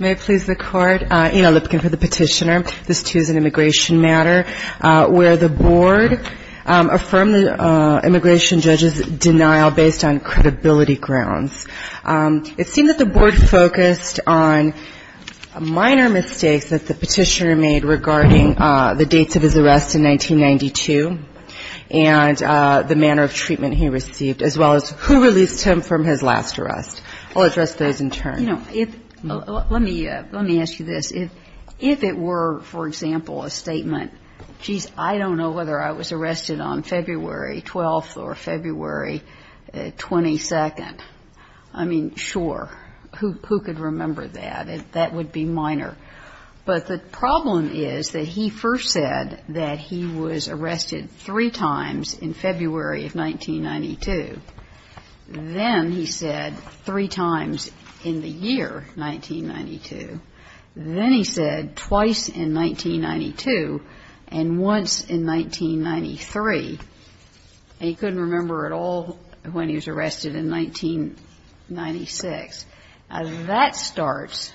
May it please the Court, Ina Lipkin for the petitioner. This, too, is an immigration matter where the board affirmed the immigration judge's denial based on credibility grounds. It seemed that the board focused on minor mistakes that the petitioner made regarding the dates of his arrest in 1992 and the manner of treatment he received, as well as who released him from his last arrest. I'll address those in turn. You know, let me ask you this. If it were, for example, a statement, geez, I don't know whether I was arrested on February 12th or February 22nd, I mean, sure, who could remember that? That would be minor. But the problem is that he first said that he was arrested three times in February of 1992. Then he said three times in the year 1992. Then he said twice in 1992. And once in 1993. And he couldn't remember at all when he was arrested in 1996. Now, that starts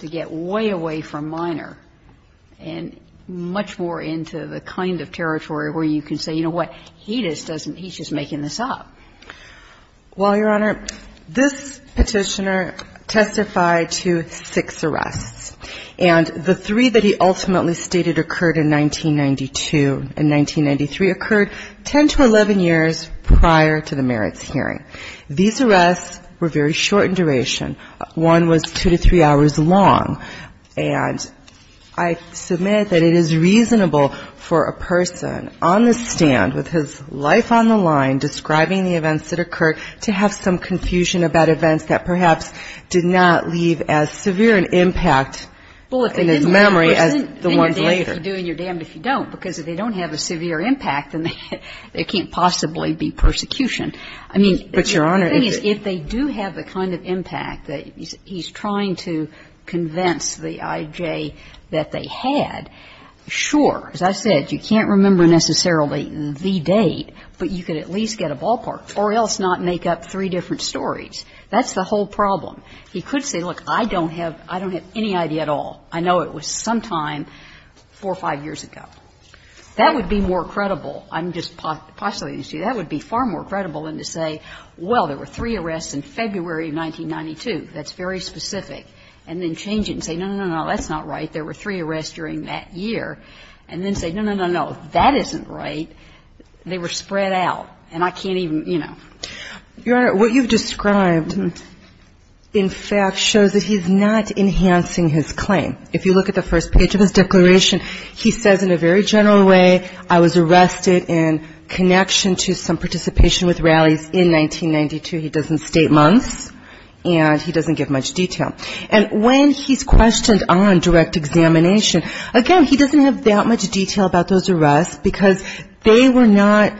to get way away from minor and much more into the kind of territory where you can say, you know what, he just doesn't, he's just making this up. Well, Your Honor, this petitioner testified to six arrests. And the three that he ultimately stated occurred in 1992 and 1993 occurred 10 to 11 years prior to the merits hearing. These arrests were very short in duration. One was two to three hours long. And I submit that it is reasonable for a person on the stand with his life on the line describing the events that occurred to have some confusion about events that perhaps did not leave as severe an impact in his memory as the ones later. I mean, the thing is, if they do have the kind of impact that he's trying to convince the I.J. that they had, sure, as I said, you can't remember necessarily the date, but you could at least get a ballpark, or else not make up three different stories. That's the whole problem. He could say, look, I don't have any idea at all. I know it was sometime four or five years ago. That would be more credible. I'm just postulating to you that would be far more credible than to say, well, there were three arrests in February of 1992. That's very specific. And then change it and say, no, no, no, no, that's not right. There were three arrests during that year. And then say, no, no, no, no, that isn't right. And I can't even, you know. Your Honor, what you've described, in fact, shows that he's not enhancing his claim. If you look at the first page of his declaration, he says in a very general way, I was arrested in connection to some participation with rallies in 1992. He doesn't state months, and he doesn't give much detail. And when he's questioned on direct examination, again, he doesn't have that much detail about those arrests, because they were not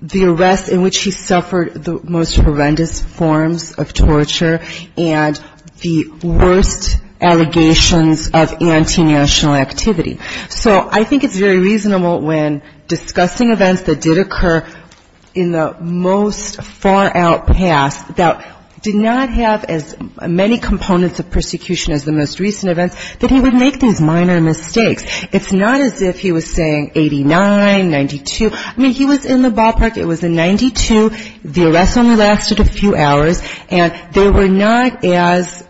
the arrests in which he suffered the most horrendous forms of torture and the worst allegations of anti-national activity. So I think it's very reasonable when discussing events that did occur in the most far-out past that did not have as many components of persecution as the most recent events, that he would make these minor mistakes. It's not as if he was saying 89, 92. I mean, he was in the ballpark. It was in 92. The arrests only lasted a few hours. And they were not as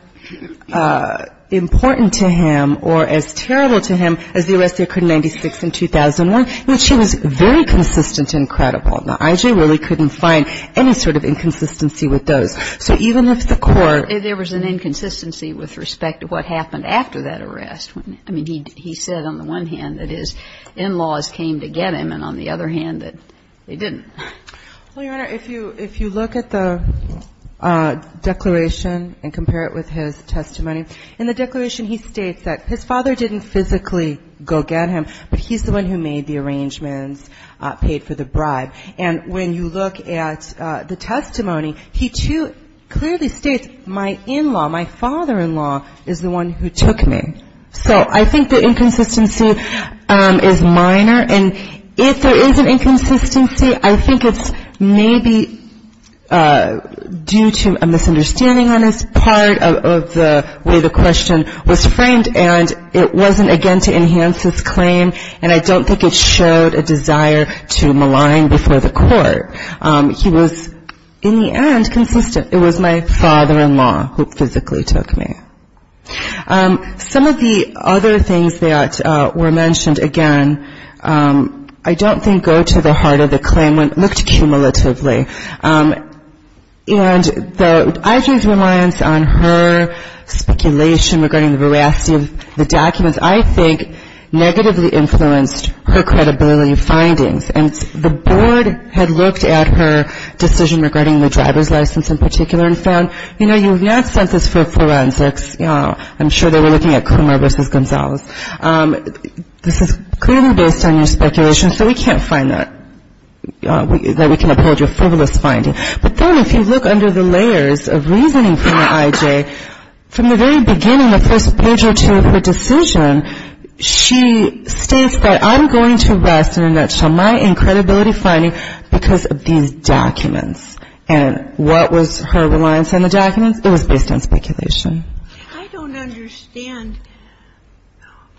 important to him or as terrible to him as the arrests that occurred in 96 and 2001, in which he was very consistent and credible. Now, I really couldn't find any sort of inconsistency with those. So even if the court ---- There was an inconsistency with respect to what happened after that arrest. I mean, he said on the one hand that his in-laws came to get him, and on the other hand that they didn't. Well, Your Honor, if you look at the declaration and compare it with his testimony, in the declaration he states that his father didn't physically go get him, but he's the one who made the arrangements, paid for the bribe. And when you look at the testimony, he too clearly states, my in-law, my father-in-law is the one who took me. So I think the inconsistency is minor. And if there is an inconsistency, I think it's maybe due to a misunderstanding on his part of the way the question was framed, and it wasn't, again, to enhance his claim. And I don't think it showed a desire to malign before the court. He was, in the end, consistent. It was my father-in-law who physically took me. Some of the other things that were mentioned, again, I don't think go to the heart of the claim. It looked cumulatively. And the IG's reliance on her speculation regarding the veracity of the documents, I think, negatively influenced her credibility findings. And the board had looked at her decision regarding the driver's license in particular and found, you know, you have not sent this for forensics. I'm sure they were looking at Coomer v. Gonzalez. This is clearly based on your speculation, so we can't find that, that we can uphold your frivolous finding. But then if you look under the layers of reasoning from the IJ, from the very beginning, the first page or two of her decision, she states that I'm going to rest, in a nutshell, my credibility finding because of these documents. And what was her reliance on the documents? It was based on speculation. I don't understand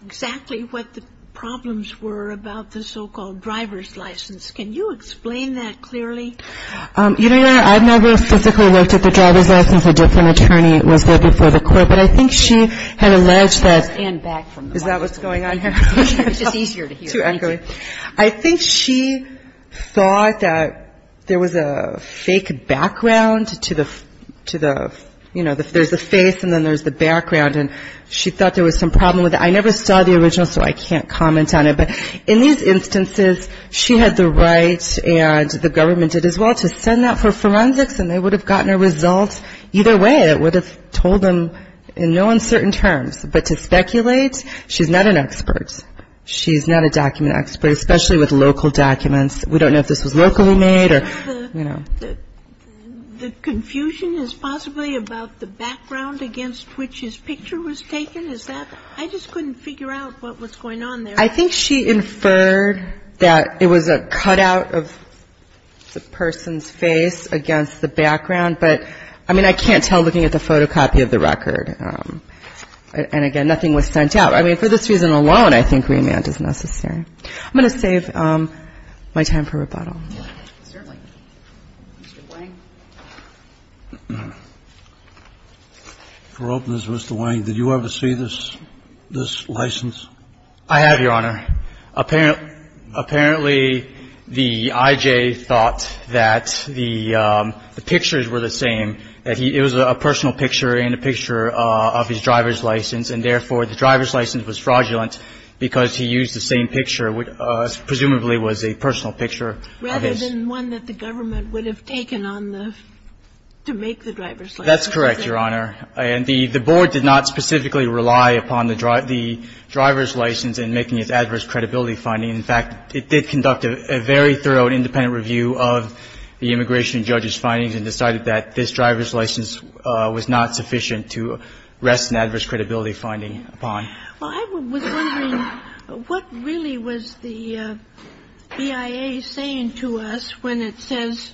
exactly what the problems were about the so-called driver's license. Can you explain that clearly? You know what? I've never physically looked at the driver's license. A different attorney was there before the court. But I think she had alleged that. Stand back from the microphone. Is that what's going on here? It's just easier to hear. Too ugly. I think she thought that there was a fake background to the, you know, if there's a face and then there's the background. And she thought there was some problem with it. I never saw the original, so I can't comment on it. But in these instances, she had the right and the government did as well to send that for forensics and they would have gotten a result either way. It would have told them in no uncertain terms. But to speculate, she's not an expert. She's not a document expert, especially with local documents. We don't know if this was locally made or, you know. The confusion is possibly about the background against which his picture was taken. Is that? I just couldn't figure out what was going on there. I think she inferred that it was a cutout of the person's face against the background. But, I mean, I can't tell looking at the photocopy of the record. And, again, nothing was sent out. I mean, for this reason alone, I think remand is necessary. I'm going to save my time for rebuttal. Certainly. Mr. Wang. For openness, Mr. Wang, did you ever see this license? I have, Your Honor. Apparently, the I.J. thought that the pictures were the same, that it was a personal picture and a picture of his driver's license, and, therefore, the driver's license was fraudulent because he used the same picture, which presumably was a personal picture. Rather than one that the government would have taken on the to make the driver's license. That's correct, Your Honor. And the Board did not specifically rely upon the driver's license in making its adverse credibility finding. In fact, it did conduct a very thorough and independent review of the immigration judge's findings and decided that this driver's license was not sufficient to rest an adverse credibility finding upon. Well, I was wondering what really was the BIA saying to us when it says,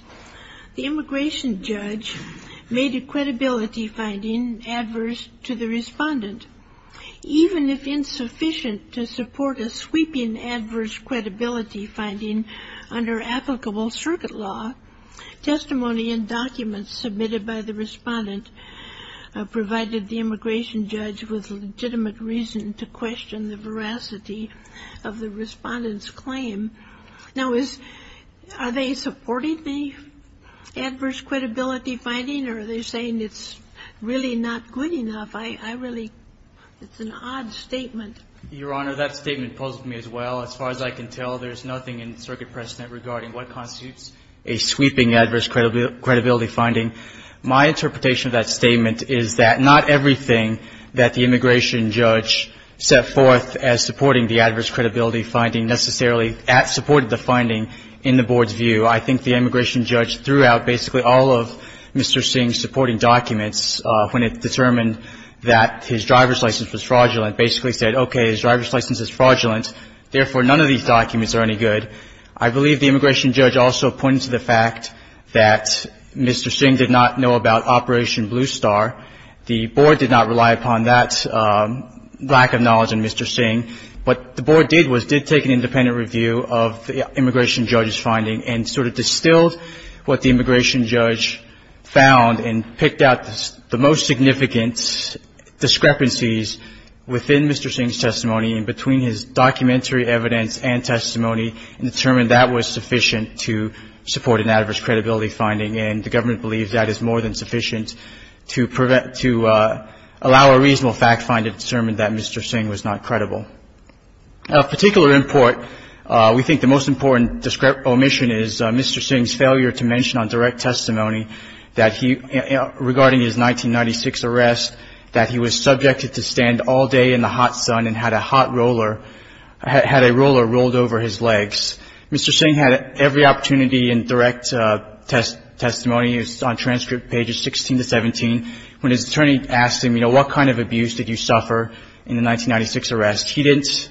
the immigration judge made a credibility finding adverse to the respondent. Even if insufficient to support a sweeping adverse credibility finding under applicable circuit law, testimony and documents submitted by the respondent provided the immigration judge with legitimate reason to question the veracity of the respondent's claim. Now, are they supporting the adverse credibility finding, or are they saying it's really not good enough? I really, it's an odd statement. Your Honor, that statement puzzled me as well. As far as I can tell, there's nothing in circuit precedent regarding what constitutes a sweeping adverse credibility finding. My interpretation of that statement is that not everything that the immigration judge set forth as supporting the adverse credibility finding necessarily supported the finding in the Board's view. I think the immigration judge threw out basically all of Mr. Singh's supporting documents when it determined that his driver's license was fraudulent, basically said, okay, his driver's license is fraudulent, therefore, none of these documents are any good. I believe the immigration judge also pointed to the fact that Mr. Singh did not know about Operation Blue Star. The Board did not rely upon that lack of knowledge in Mr. Singh. What the Board did was did take an independent review of the immigration judge's finding and sort of distilled what the immigration judge found and picked out the most significant discrepancies within Mr. Singh's testimony and between his documentary evidence and testimony and determined that was sufficient to support an adverse credibility finding. And the government believes that is more than sufficient to allow a reasonable fact-finding to determine that Mr. Singh was not credible. Of particular import, we think the most important omission is Mr. Singh's failure to mention on direct testimony regarding his 1996 arrest that he was subjected to a roller rolled over his legs. Mr. Singh had every opportunity in direct testimony on transcript pages 16 to 17 when his attorney asked him, you know, what kind of abuse did you suffer in the 1996 arrest? He didn't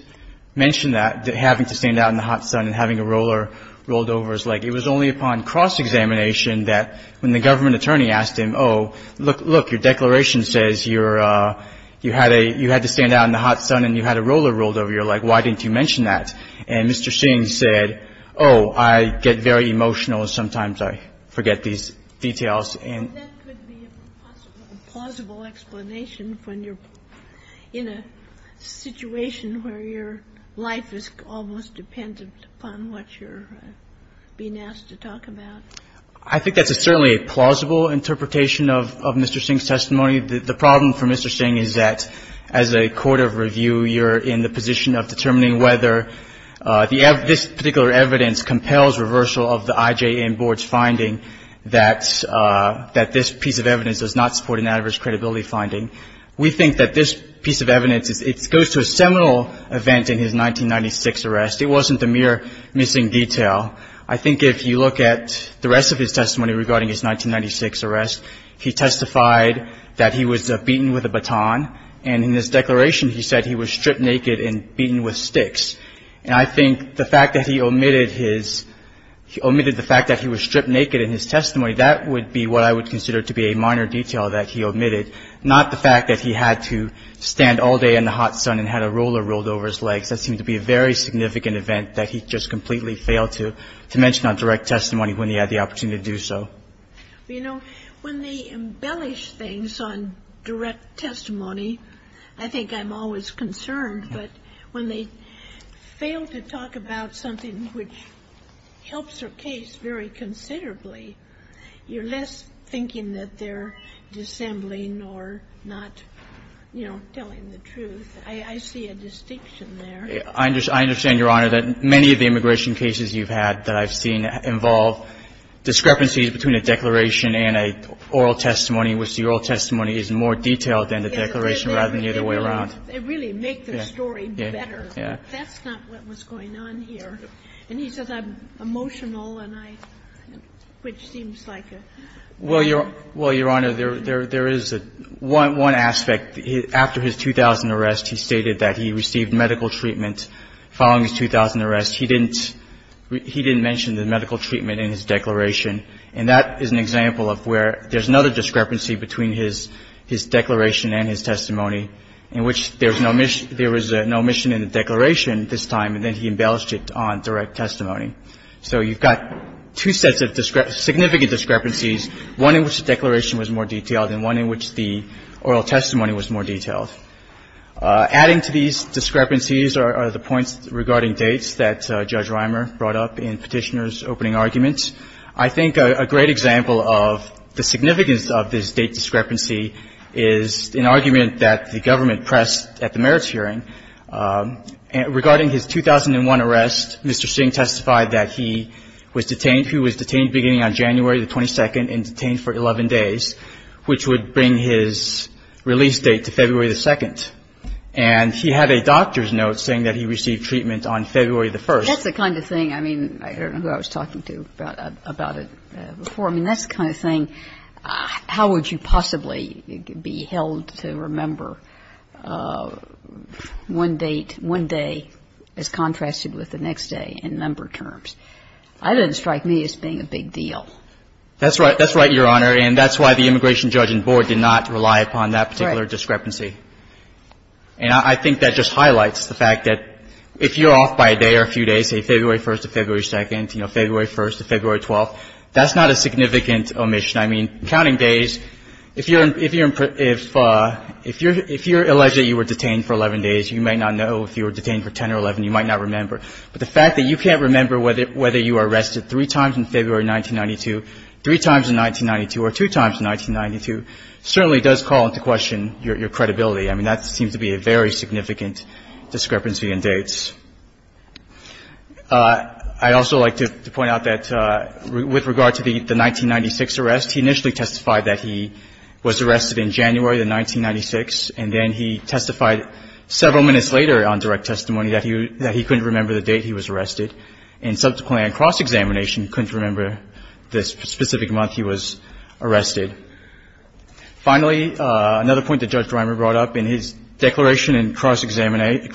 mention that, having to stand out in the hot sun and having a roller rolled over his leg. It was only upon cross-examination that when the government attorney asked him, oh, look, your declaration says you had to stand out in the hot sun and you had a roller rolled over your leg. Why didn't you mention that? And Mr. Singh said, oh, I get very emotional and sometimes I forget these details. And that could be a possible, plausible explanation when you're in a situation where your life is almost dependent upon what you're being asked to talk about. I think that's certainly a plausible interpretation of Mr. Singh's testimony. The problem for Mr. Singh is that as a court of review, you're in the position of determining whether this particular evidence compels reversal of the IJN board's finding that this piece of evidence does not support an adverse credibility finding. We think that this piece of evidence, it goes to a seminal event in his 1996 arrest. It wasn't a mere missing detail. I think if you look at the rest of his testimony regarding his 1996 arrest, he testified that he was beaten with a baton. And in his declaration, he said he was stripped naked and beaten with sticks. And I think the fact that he omitted his, he omitted the fact that he was stripped naked in his testimony, that would be what I would consider to be a minor detail that he omitted, not the fact that he had to stand all day in the hot sun and had a roller rolled over his legs. That seemed to be a very significant event that he just completely failed to mention on direct testimony when he had the opportunity to do so. You know, when they embellish things on direct testimony, I think I'm always concerned, but when they fail to talk about something which helps their case very considerably, you're less thinking that they're dissembling or not, you know, telling the truth. I see a distinction there. I understand, Your Honor, that many of the immigration cases you've had that I've seen involve discrepancies between a declaration and an oral testimony, which the oral testimony is more detailed than the declaration rather than the other way around. They really make the story better. That's not what was going on here. And he says I'm emotional and I, which seems like a... Well, Your Honor, there is one aspect. After his 2000 arrest, he stated that he received medical treatment following his 2000 arrest. He didn't mention the medical treatment in his declaration, and that is an example of where there's another discrepancy between his declaration and his testimony in which there was no omission in the declaration this time, and then he embellished it on direct testimony. So you've got two sets of significant discrepancies, one in which the declaration was more detailed and one in which the oral testimony was more detailed. Adding to these discrepancies are the points regarding dates that Judge Reimer brought up in Petitioner's opening argument. I think a great example of the significance of this date discrepancy is an argument that the government pressed at the merits hearing. Regarding his 2001 arrest, Mr. Singh testified that he was detained. He was detained beginning on January the 22nd and detained for 11 days, which would bring his release date to February the 2nd, and he had a doctor's note saying that he received treatment on February the 1st. That's the kind of thing, I mean, I don't know who I was talking to about it before. I mean, that's the kind of thing, how would you possibly be held to remember one date, one day as contrasted with the next day in member terms? That doesn't strike me as being a big deal. That's right, Your Honor, and that's why the immigration judge and board did not rely upon that particular discrepancy. And I think that just highlights the fact that if you're off by a day or a few days, say February 1st to February 2nd, you know, February 1st to February 12th, that's not a significant omission. I mean, counting days, if you're alleged that you were detained for 11 days, you may not know. If you were detained for 10 or 11, you might not remember. But the fact that you can't remember whether you were arrested three times in February 1992, three times in 1992, or two times in 1992, certainly does call into question your credibility. I mean, that seems to be a very significant discrepancy in dates. I'd also like to point out that with regard to the 1996 arrest, he initially testified that he was arrested in January of 1996, and then he testified several minutes later on direct testimony that he couldn't remember the date he was arrested. And subsequently, on cross-examination, couldn't remember the specific month he was arrested. Finally, another point that Judge Dreimer brought up, in his declaration in cross-examination,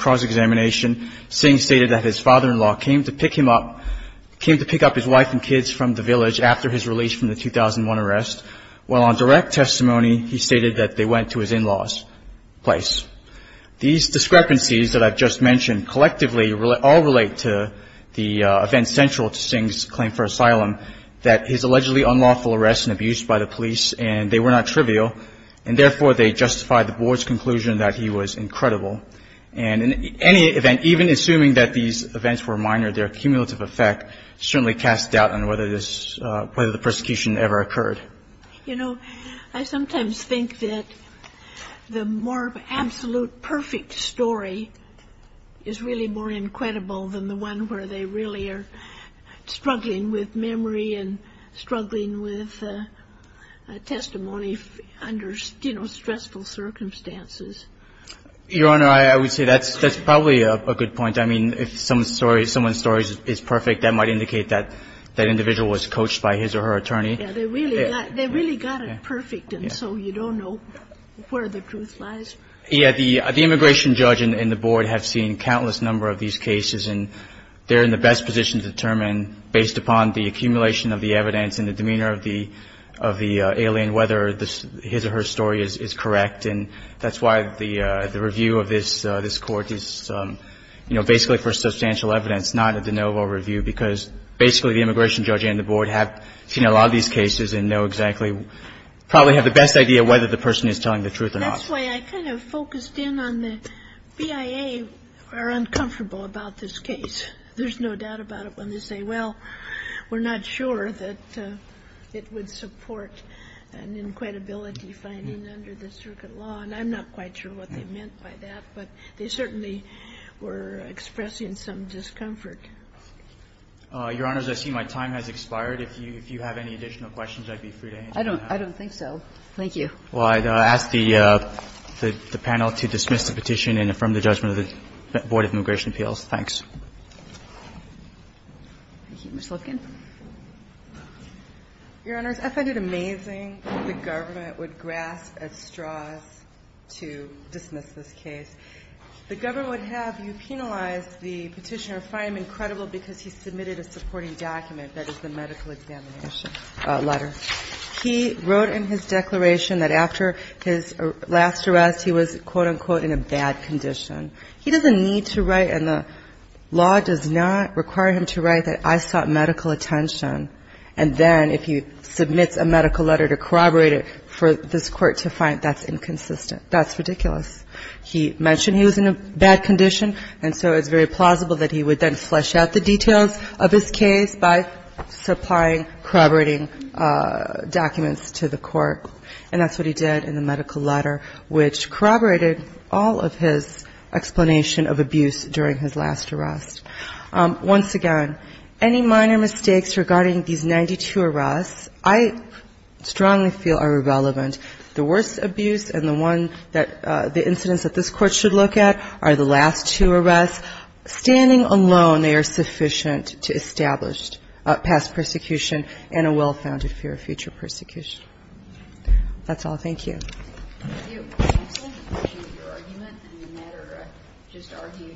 Singh stated that his father-in-law came to pick him up, came to pick up his wife and kids from the village after his release from the 2001 arrest, while on direct testimony, he stated that they went to his in-laws' place. These discrepancies that I've just mentioned collectively all relate to the event central to Singh's claim for asylum, that his allegedly unlawful arrest and abuse by the police, and they were not trivial, and therefore, they justify the Board's conclusion that he was incredible. And in any event, even assuming that these events were minor, their cumulative effect certainly casts doubt on whether this – whether the persecution ever occurred. You know, I sometimes think that the more absolute perfect story is really more incredible than the one where they really are struggling with memory and struggling with testimony under, you know, stressful circumstances. Your Honor, I would say that's probably a good point. I mean, if someone's story is perfect, that might indicate that that individual was coached by his or her attorney. Yeah, they really got it perfect, and so you don't know where the truth lies. Yeah. The immigration judge and the Board have seen countless number of these cases, and they're in the best position to determine, based upon the accumulation of the evidence and the demeanor of the alien, whether his or her story is correct. And that's why the review of this Court is, you know, basically for substantial evidence, not a de novo review, because basically the immigration judge and the Board have seen a lot of these cases and know exactly – probably have the best idea whether the person is telling the truth or not. That's why I kind of focused in on the BIA are uncomfortable about this case. There's no doubt about it when they say, well, we're not sure that it would support an inquietability finding under the circuit law. And I'm not quite sure what they meant by that, but they certainly were expressing some discomfort. Your Honors, I see my time has expired. If you have any additional questions, I'd be free to answer them now. I don't think so. Thank you. Well, I'd ask the panel to dismiss the petition and affirm the judgment of the Board of Immigration Appeals. Thanks. Thank you. Ms. Lipkin. Your Honors, I find it amazing that the government would grasp at straws to dismiss this case. The government would have you penalize the petitioner, find him incredible because he submitted a supporting document that is the medical examination letter. He wrote in his declaration that after his last arrest he was, quote, unquote, in a bad condition. He doesn't need to write, and the law does not require him to write that I sought medical attention. And then if he submits a medical letter to corroborate it for this court to find, that's inconsistent. That's ridiculous. He mentioned he was in a bad condition, and so it's very plausible that he would then flesh out the details of his case by supplying corroborating documents to the court. And that's what he did in the medical letter, which corroborated all of his explanation of abuse during his last arrest. Once again, any minor mistakes regarding these 92 arrests I strongly feel are relevant. The worst abuse and the one that the incidents that this Court should look at are the last two arrests. Standing alone, they are sufficient to establish past persecution and a well-founded fear of future persecution. That's all. Thank you. Thank you. Counsel, I appreciate your argument, and the matter just argued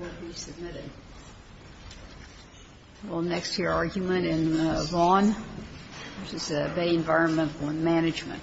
will be submitted. We'll next hear argument in Vaughan, which is the Bay Environmental Management. Thank you.